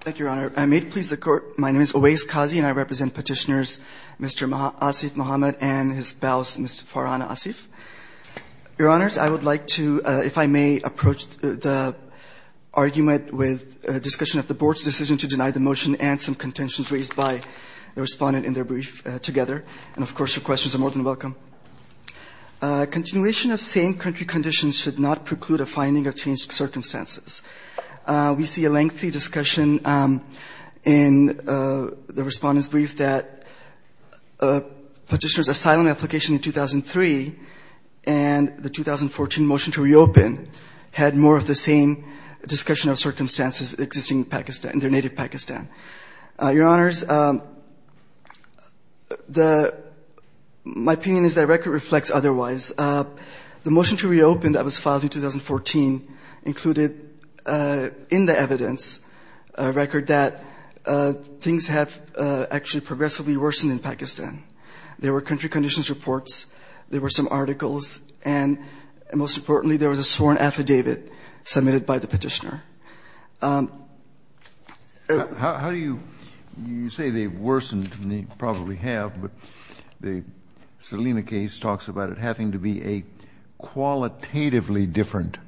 Thank you, Your Honor. May it please the Court, my name is Owais Qazi and I represent petitioners Mr. Asif Muhammed and his spouse, Ms. Farhana Asif. Your Honors, I would like to, if I may, approach the argument with discussion of the Board's decision to deny the motion and some contentions raised by the respondent in their brief together. And, of course, your questions are more than welcome. Continuation of same country conditions should not preclude a finding of changed circumstances. We see a lengthy discussion in the respondent's brief that petitioners' asylum application in 2003 and the 2014 motion to reopen had more of the same discussion of circumstances existing in Pakistan, in their native Pakistan. Your Honors, my opinion is that record reflects otherwise. The motion to reopen that was filed in 2014 included in the evidence a record that things have actually progressively worsened in Pakistan. There were country conditions reports, there were some articles, and most importantly, there was a sworn affidavit submitted by the petitioner. How do you, you say they've worsened, and they probably have, but the Salina case talks about it having to be a qualitatively different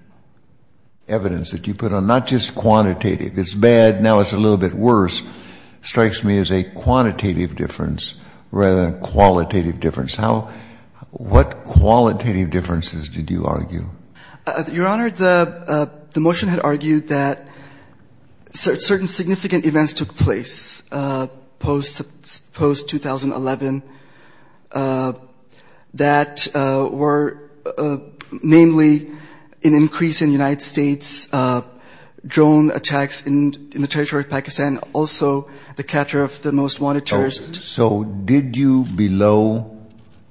evidence that you put on, not just quantitative, it's bad, now it's a little bit worse, strikes me as a quantitative difference rather than a qualitative difference. How, what qualitative differences did you argue? Your Honor, the motion had argued that certain significant events took place post-2011 that were namely an increase in United States drone attacks in the territory of Pakistan, also the capture of the most wanted terrorist. So did you below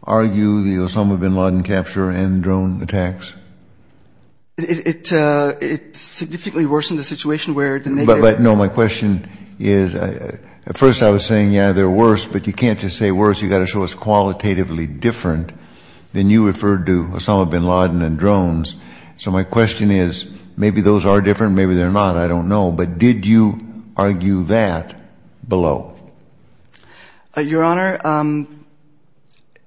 argue the Osama bin Laden capture and drone attacks? It, it significantly worsened the situation where... But no, my question is, at first I was saying, yeah, they're worse, but you can't just say worse, you've got to show it's qualitatively different than you referred to Osama bin Laden and drones. So my question is, maybe those are different, maybe they're not, I don't know. But did you argue that below? Your Honor,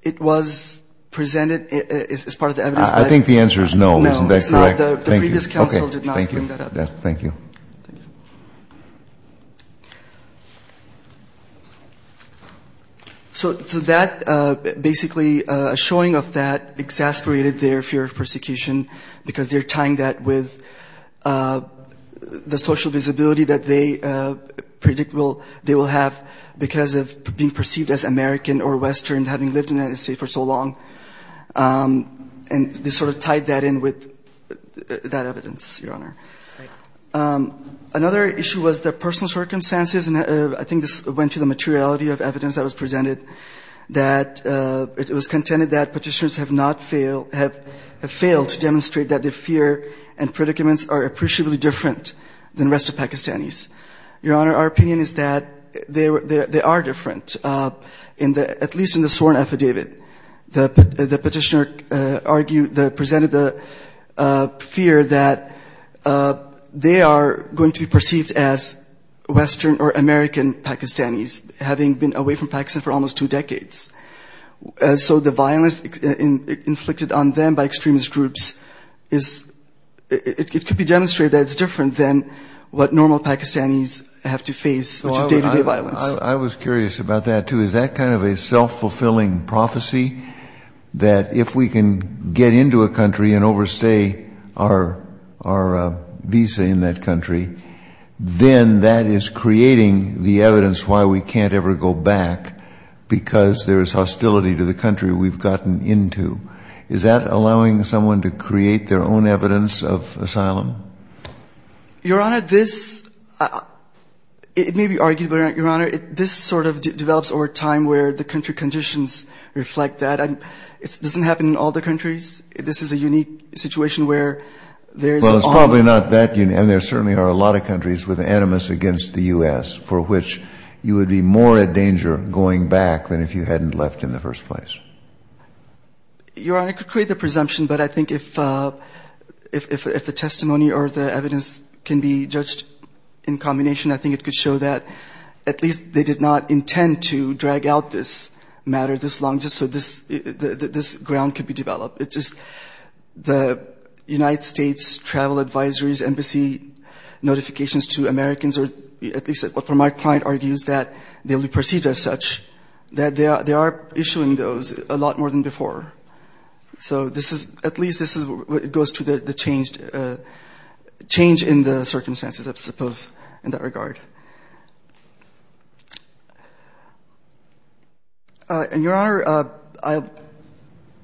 it was presented as part of the evidence, but... I think the answer is no, isn't that correct? No, it's not, the previous counsel did not bring that up. Okay, thank you, thank you. So that, basically a showing of that exasperated their fear of persecution because they're tying that with the social visibility that they predict they will have because of being perceived as American or Western, having lived in the United States for so long. And they sort of tied that in with that evidence, Your Honor. Another issue was the personal circumstances, and I think this went to the materiality of evidence that was presented, that it was contended that petitioners have not failed, have failed to demonstrate that their fear and predicaments are appreciably different than the rest of Pakistanis. Your Honor, our opinion is that they are different, at least in the sworn affidavit. The petitioner presented the fear that they are going to be perceived as Western or American Pakistanis, having been away from Pakistan for almost two decades. So the violence inflicted on them by extremist groups, it could be demonstrated that it's different than what normal Pakistanis have to face, which is day-to-day violence. I was curious about that, too. Is that kind of a self-fulfilling prophecy, that if we can get into a country and overstay our visa in that country, then that is creating the evidence why we can't ever go back because there is hostility to the country we've gotten into? Is that allowing someone to create their own evidence of asylum? Your Honor, this, it may be arguable, Your Honor, this sort of develops over time where the country conditions reflect that. It doesn't happen in all the countries. This is a unique situation where there is... Well, it's probably not that unique, and there certainly are a lot of countries with animus against the U.S. for which you would be more at danger going back than if you hadn't left in the first place. Your Honor, I could create the presumption, but I think if the testimony or the evidence can be judged in combination, I think it could show that at least they did not intend to drag out this matter this long just so this ground could be developed. It's just the United States travel advisories, embassy notifications to Americans, or at least what my client argues, that they'll be perceived as such, that they are issuing those a lot more than before. So this is, at least this is what goes to the change in the circumstances, I suppose, in that regard. And Your Honor,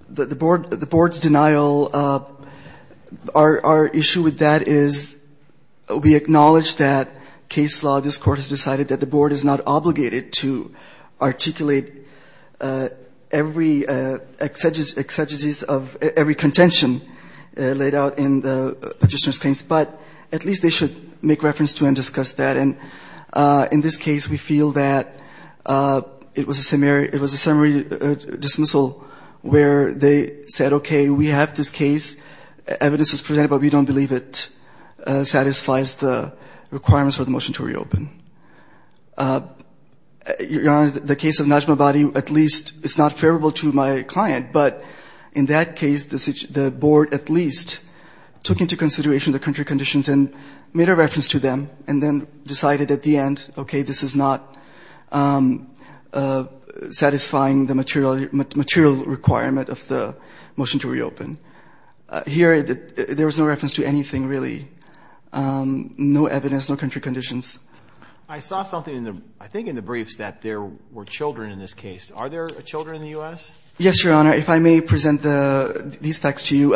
the Board's denial, our issue with that is we acknowledge that case law, this Court has decided that the Board is not going to be, is not obligated to articulate every exegesis of every contention laid out in the petitioner's case, but at least they should make reference to and discuss that. And in this case, we feel that it was a summary dismissal where they said, okay, we have this case, evidence was presented, but we don't believe it satisfies the requirements for the motion to reopen. Your Honor, the case of Najmabadi at least is not favorable to my client, but in that case, the Board at least took into consideration the country conditions and made a reference to them, and then decided at the end, okay, this is not satisfying the material requirement of the motion to reopen. Here, there was no reference to anything, really. No evidence, no country conditions. I saw something, I think in the briefs, that there were children in this case. Are there children in the U.S.? Yes, Your Honor. If I may present these facts to you,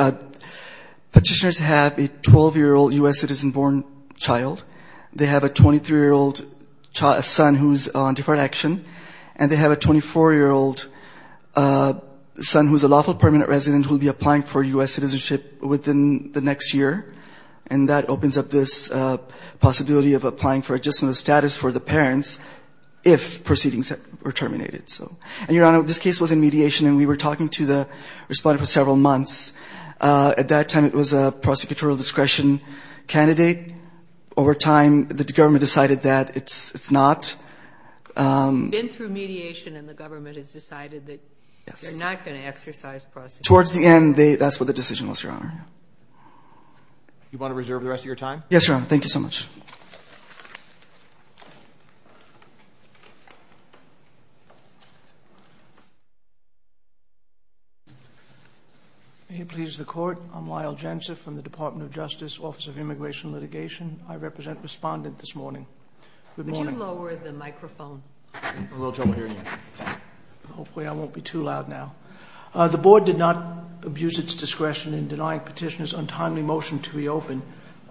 petitioners have a 12-year-old U.S. citizen-born child. They have a 23-year-old son who's on deferred action, and they have a 24-year-old son who's a lawful permanent resident who will be applying for U.S. citizenship within the next year, and that opens up this possibility of applying for additional status for the parents if proceedings were terminated. And, Your Honor, this case was in mediation, and we were talking to the respondent for several months. At that time, it was a prosecutorial discretion candidate. Over time, the government decided that it's not. Been through mediation, and the government has decided that they're not going to exercise prosecutorial discretion. Towards the end, that's what the decision was, Your Honor. You want to reserve the rest of your time? Yes, Your Honor. Thank you so much. May it please the Court, I'm Lyle Jantzeff from the Department of Justice, Office of Immigration and Litigation. I represent the respondent this morning. Good morning. Can you lower the microphone? Hopefully I won't be too loud now. The Board did not abuse its discretion in denying petitioners untimely motion to reopen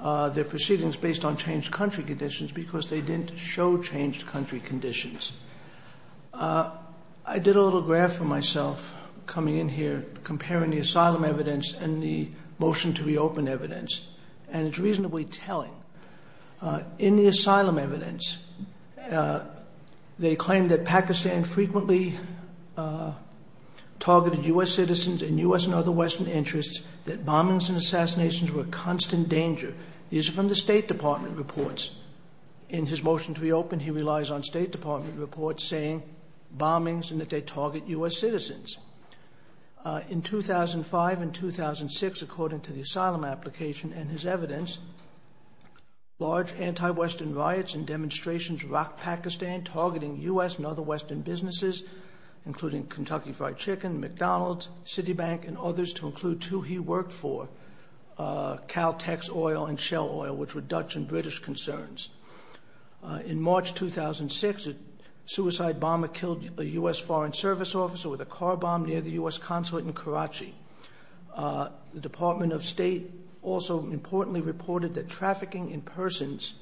their proceedings based on changed country conditions because they didn't show changed country conditions. I did a little graph for myself, coming in here, comparing the asylum evidence and the motion to reopen evidence, and it's reasonably telling. In the asylum evidence, they claim that Pakistan frequently targeted U.S. citizens and U.S. and other Western interests, that bombings and assassinations were a constant danger. These are from the State Department reports. In his motion to reopen, he relies on State Department reports saying bombings and that they target U.S. citizens. In 2005 and 2006, according to the asylum application and his evidence, large anti-Western riots and demonstrations rocked Pakistan, targeting U.S. and other Western businesses, including Kentucky Fried Chicken, McDonald's, Citibank, and others, to include two he worked for, Caltex Oil and Shell Oil, which were Dutch and British concerns. In March 2006, a suicide bomber killed a U.S. Foreign Service officer with a car bomb, near the U.S. consulate in Karachi. The Department of State also importantly reported that trafficking in persons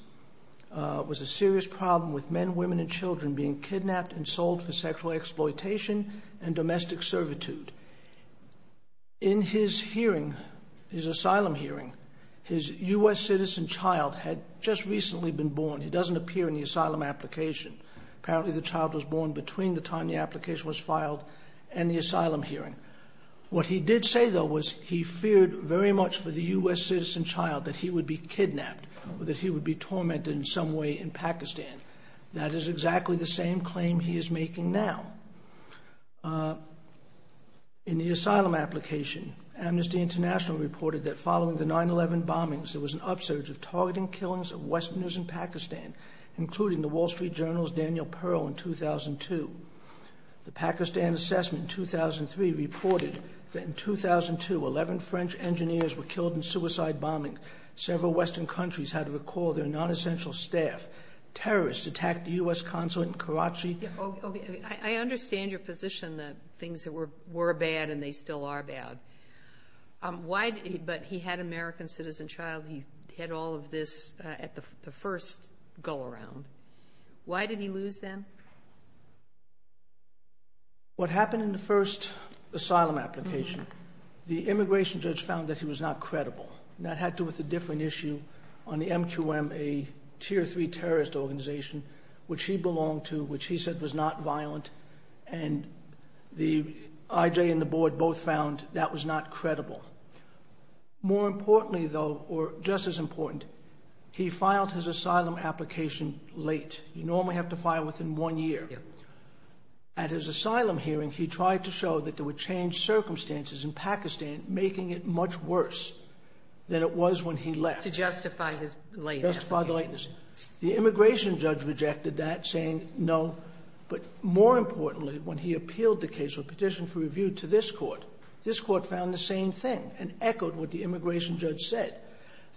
was a serious problem with men, women, and children being kidnapped and sold for sexual exploitation and domestic servitude. In his hearing, his asylum hearing, his U.S. citizen child had just recently been born. He doesn't appear in the asylum application. Apparently the child was born between the time the application was filed and the asylum hearing. What he did say, though, was he feared very much for the U.S. citizen child that he would be kidnapped or that he would be tormented in some way in Pakistan. That is exactly the same claim he is making now. In the asylum application, Amnesty International reported that following the 9-11 bombings, there was an upsurge of targeting killings of Westerners in Pakistan, including the Wall Street Journal's Daniel Pearl in 2002. The Pakistan Assessment in 2003 reported that in 2002, 11 French engineers were killed in suicide bombing. Several Western countries had to recall their non-essential staff. Terrorists attacked the U.S. consulate in Karachi. I understand your position that things were bad and they still are bad. But he had an American citizen child. He had all of this at the first go-around. Why did he lose then? What happened in the first asylum application, the immigration judge found that he was not credible. That had to do with a different issue on the MQM, a Tier 3 terrorist organization, which he belonged to, which he said was not violent. And the IJ and the board both found that was not credible. More importantly, though, or just as important, he filed his asylum application late. You normally have to file within one year. At his asylum hearing, he tried to show that there were changed circumstances in Pakistan, making it much worse than it was when he left. To justify his lateness. To justify the lateness. The immigration judge rejected that, saying no. But more importantly, when he appealed the case or petitioned for review to this court, this court found the same thing and echoed what the immigration judge said,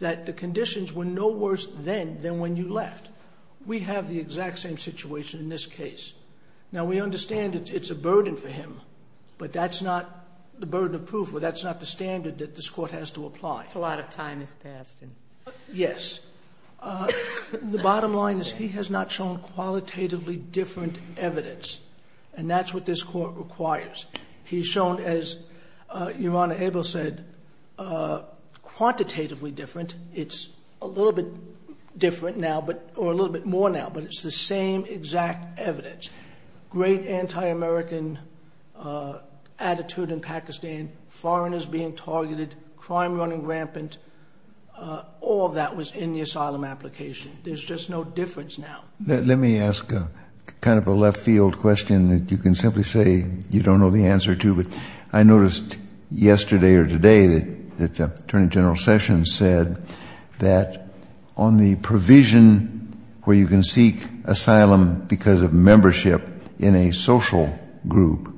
that the conditions were no worse then than when you left. We have the exact same situation in this case. Now, we understand it's a burden for him, but that's not the burden of proof, or that's not the standard that this court has to apply. The bottom line is he has not shown qualitatively different evidence. And that's what this court requires. He's shown, as Your Honor, Abel said, quantitatively different. It's a little bit different now, or a little bit more now, but it's the same exact evidence. Great anti-American attitude in Pakistan. Foreigners being targeted. Crime running rampant. All of that was in the asylum application. There's just no difference now. Let me ask kind of a left field question that you can simply say you don't know the answer to. I noticed yesterday or today that Attorney General Sessions said that on the provision where you can seek asylum because of membership in a social group,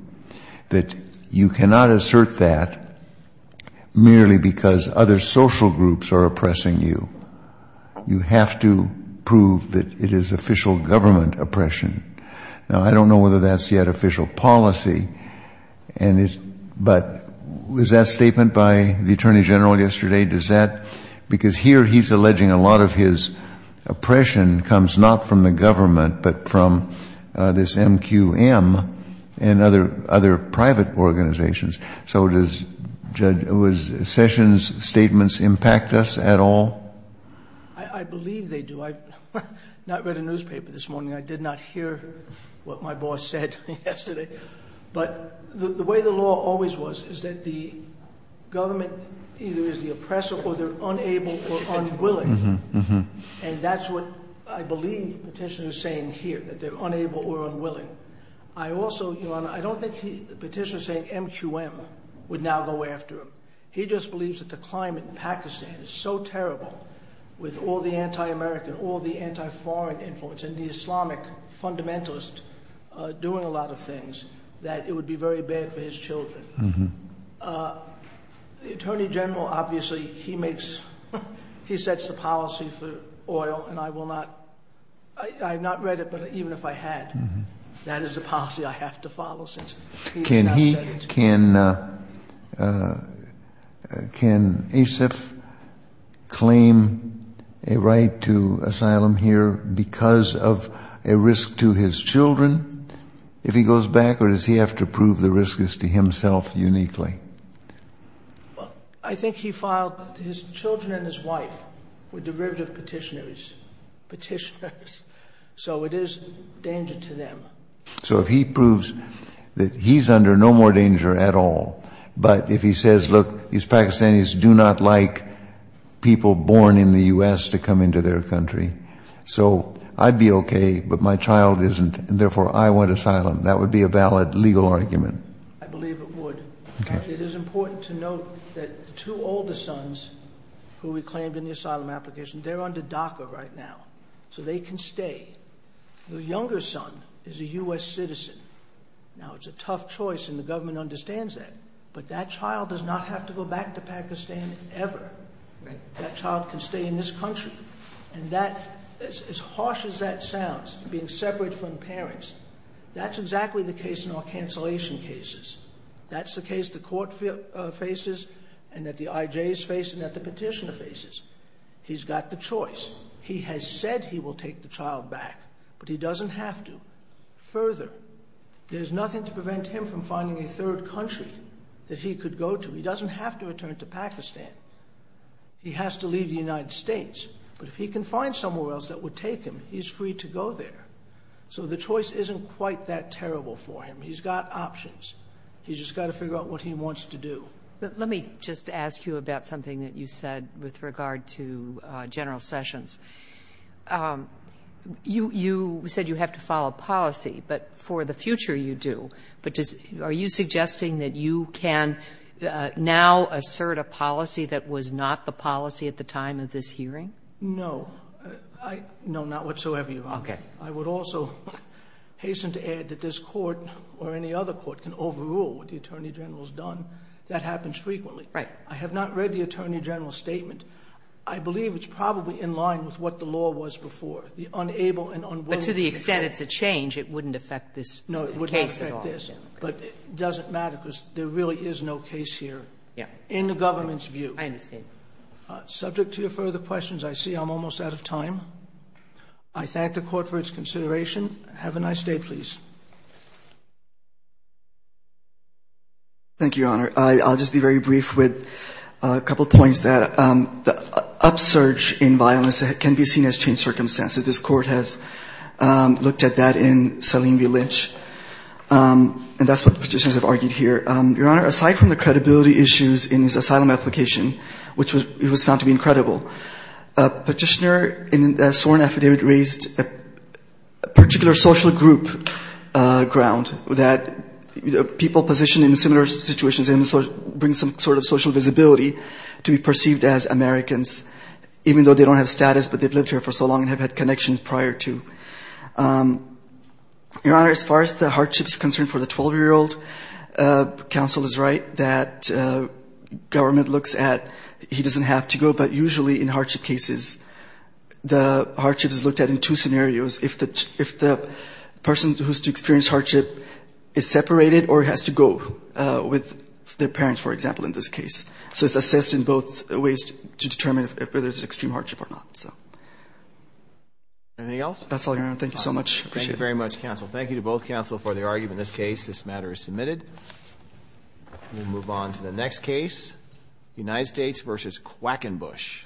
that you cannot assert that merely because other social groups are oppressing you. You have to prove that it is official government oppression. Now, I don't know whether that's yet official policy, but was that statement by the Attorney General yesterday? Because here he's alleging a lot of his oppression comes not from the government, but from this MQM and other private organizations. So does Sessions' statements impact us at all? I believe they do. I did not read a newspaper this morning. I did not hear what my boss said yesterday. But the way the law always was is that the government either is the oppressor or they're unable or unwilling. And that's what I believe the petitioner is saying here, that they're unable or unwilling. I also, Ilana, I don't think the petitioner is saying MQM would now go after him. He just believes that the climate in Pakistan is so terrible with all the anti-American, all the anti-foreign influence and the Islamic fundamentalist doing a lot of things that it would be very bad for his children. The Attorney General, obviously, he makes, he sets the policy for oil, and I will not, I have not read it, but even if I had, that is the policy I have to follow since he is not setting it. Can Asif claim a right to asylum here because of a risk to his children if he goes back, or does he have to prove the risk is to himself uniquely? Well, I think he filed, his children and his wife were derivative petitioners, so it is danger to them. So if he proves that he's under no more danger at all, but if he says, look, these Pakistanis do not like people born in the U.S. to come into their country, so I'd be okay, but my child isn't, and therefore I want asylum, that would be a valid legal argument. I believe it would. It is important to note that the two older sons who we claimed in the asylum application, they're under DACA right now, so they can stay. The younger son is a U.S. citizen. Now, it's a tough choice and the government understands that, but that child does not have to go back to Pakistan ever. That child can stay in this country, and that, as harsh as that sounds, being separate from parents, that's exactly the case in all cancellation cases. That's the case the court faces and that the IJs face and that the petitioner faces. He's got the choice. He has said he will take the child back, but he doesn't have to. Further, there's nothing to prevent him from finding a third country that he could go to. He doesn't have to return to Pakistan. He has to leave the United States, but if he can find somewhere else that would take him, he's free to go there. So the choice isn't quite that terrible for him. He's got options. He's just got to figure out what he wants to do. Let me just ask you about something that you said with regard to General Sessions. You said you have to follow policy, but for the future you do, but are you suggesting that you can now assert a policy that was not the policy at the time of this hearing? No. No, not whatsoever, Your Honor. Okay. I would also hasten to add that this court or any other court can overrule what the Attorney General has done. That happens frequently. Right. I have not read the Attorney General's statement. I believe it's probably in line with what the law was before. The unable and unwilling to change. But to the extent it's a change, it wouldn't affect this case at all. No, it wouldn't affect this. But it doesn't matter because there really is no case here. Yeah. In the government's view. I understand. Subject to your further questions, I see I'm almost out of time. I thank the Court for its consideration. Have a nice day, please. Thank you, Your Honor. I'll just be very brief with a couple of points. The upsurge in violence can be seen as changed circumstances. This Court has looked at that in Salim v. Lynch. And that's what the Petitioners have argued here. Your Honor, aside from the credibility issues in his asylum application, which was found to be incredible, a Petitioner in the Soren Affidavit raised a particular social group ground that people positioned in similar situations bring some sort of social visibility to be perceived as Americans, even though they don't have status, but they've lived here for so long and have had connections prior to. Your Honor, as far as the hardship is concerned for the 12-year-old, counsel is right that government looks at he doesn't have to go. But usually in hardship cases, the hardship is looked at in two scenarios. If the person who's to experience hardship is separated or has to go with their parents, for example, in this case. So it's assessed in both ways to determine if there's extreme hardship or not. Anything else? That's all, Your Honor. Thank you so much. Thank you very much, counsel. Thank you to both counsel for their argument in this case. This matter is submitted. We'll move on to the next case, United States v. Quackenbush.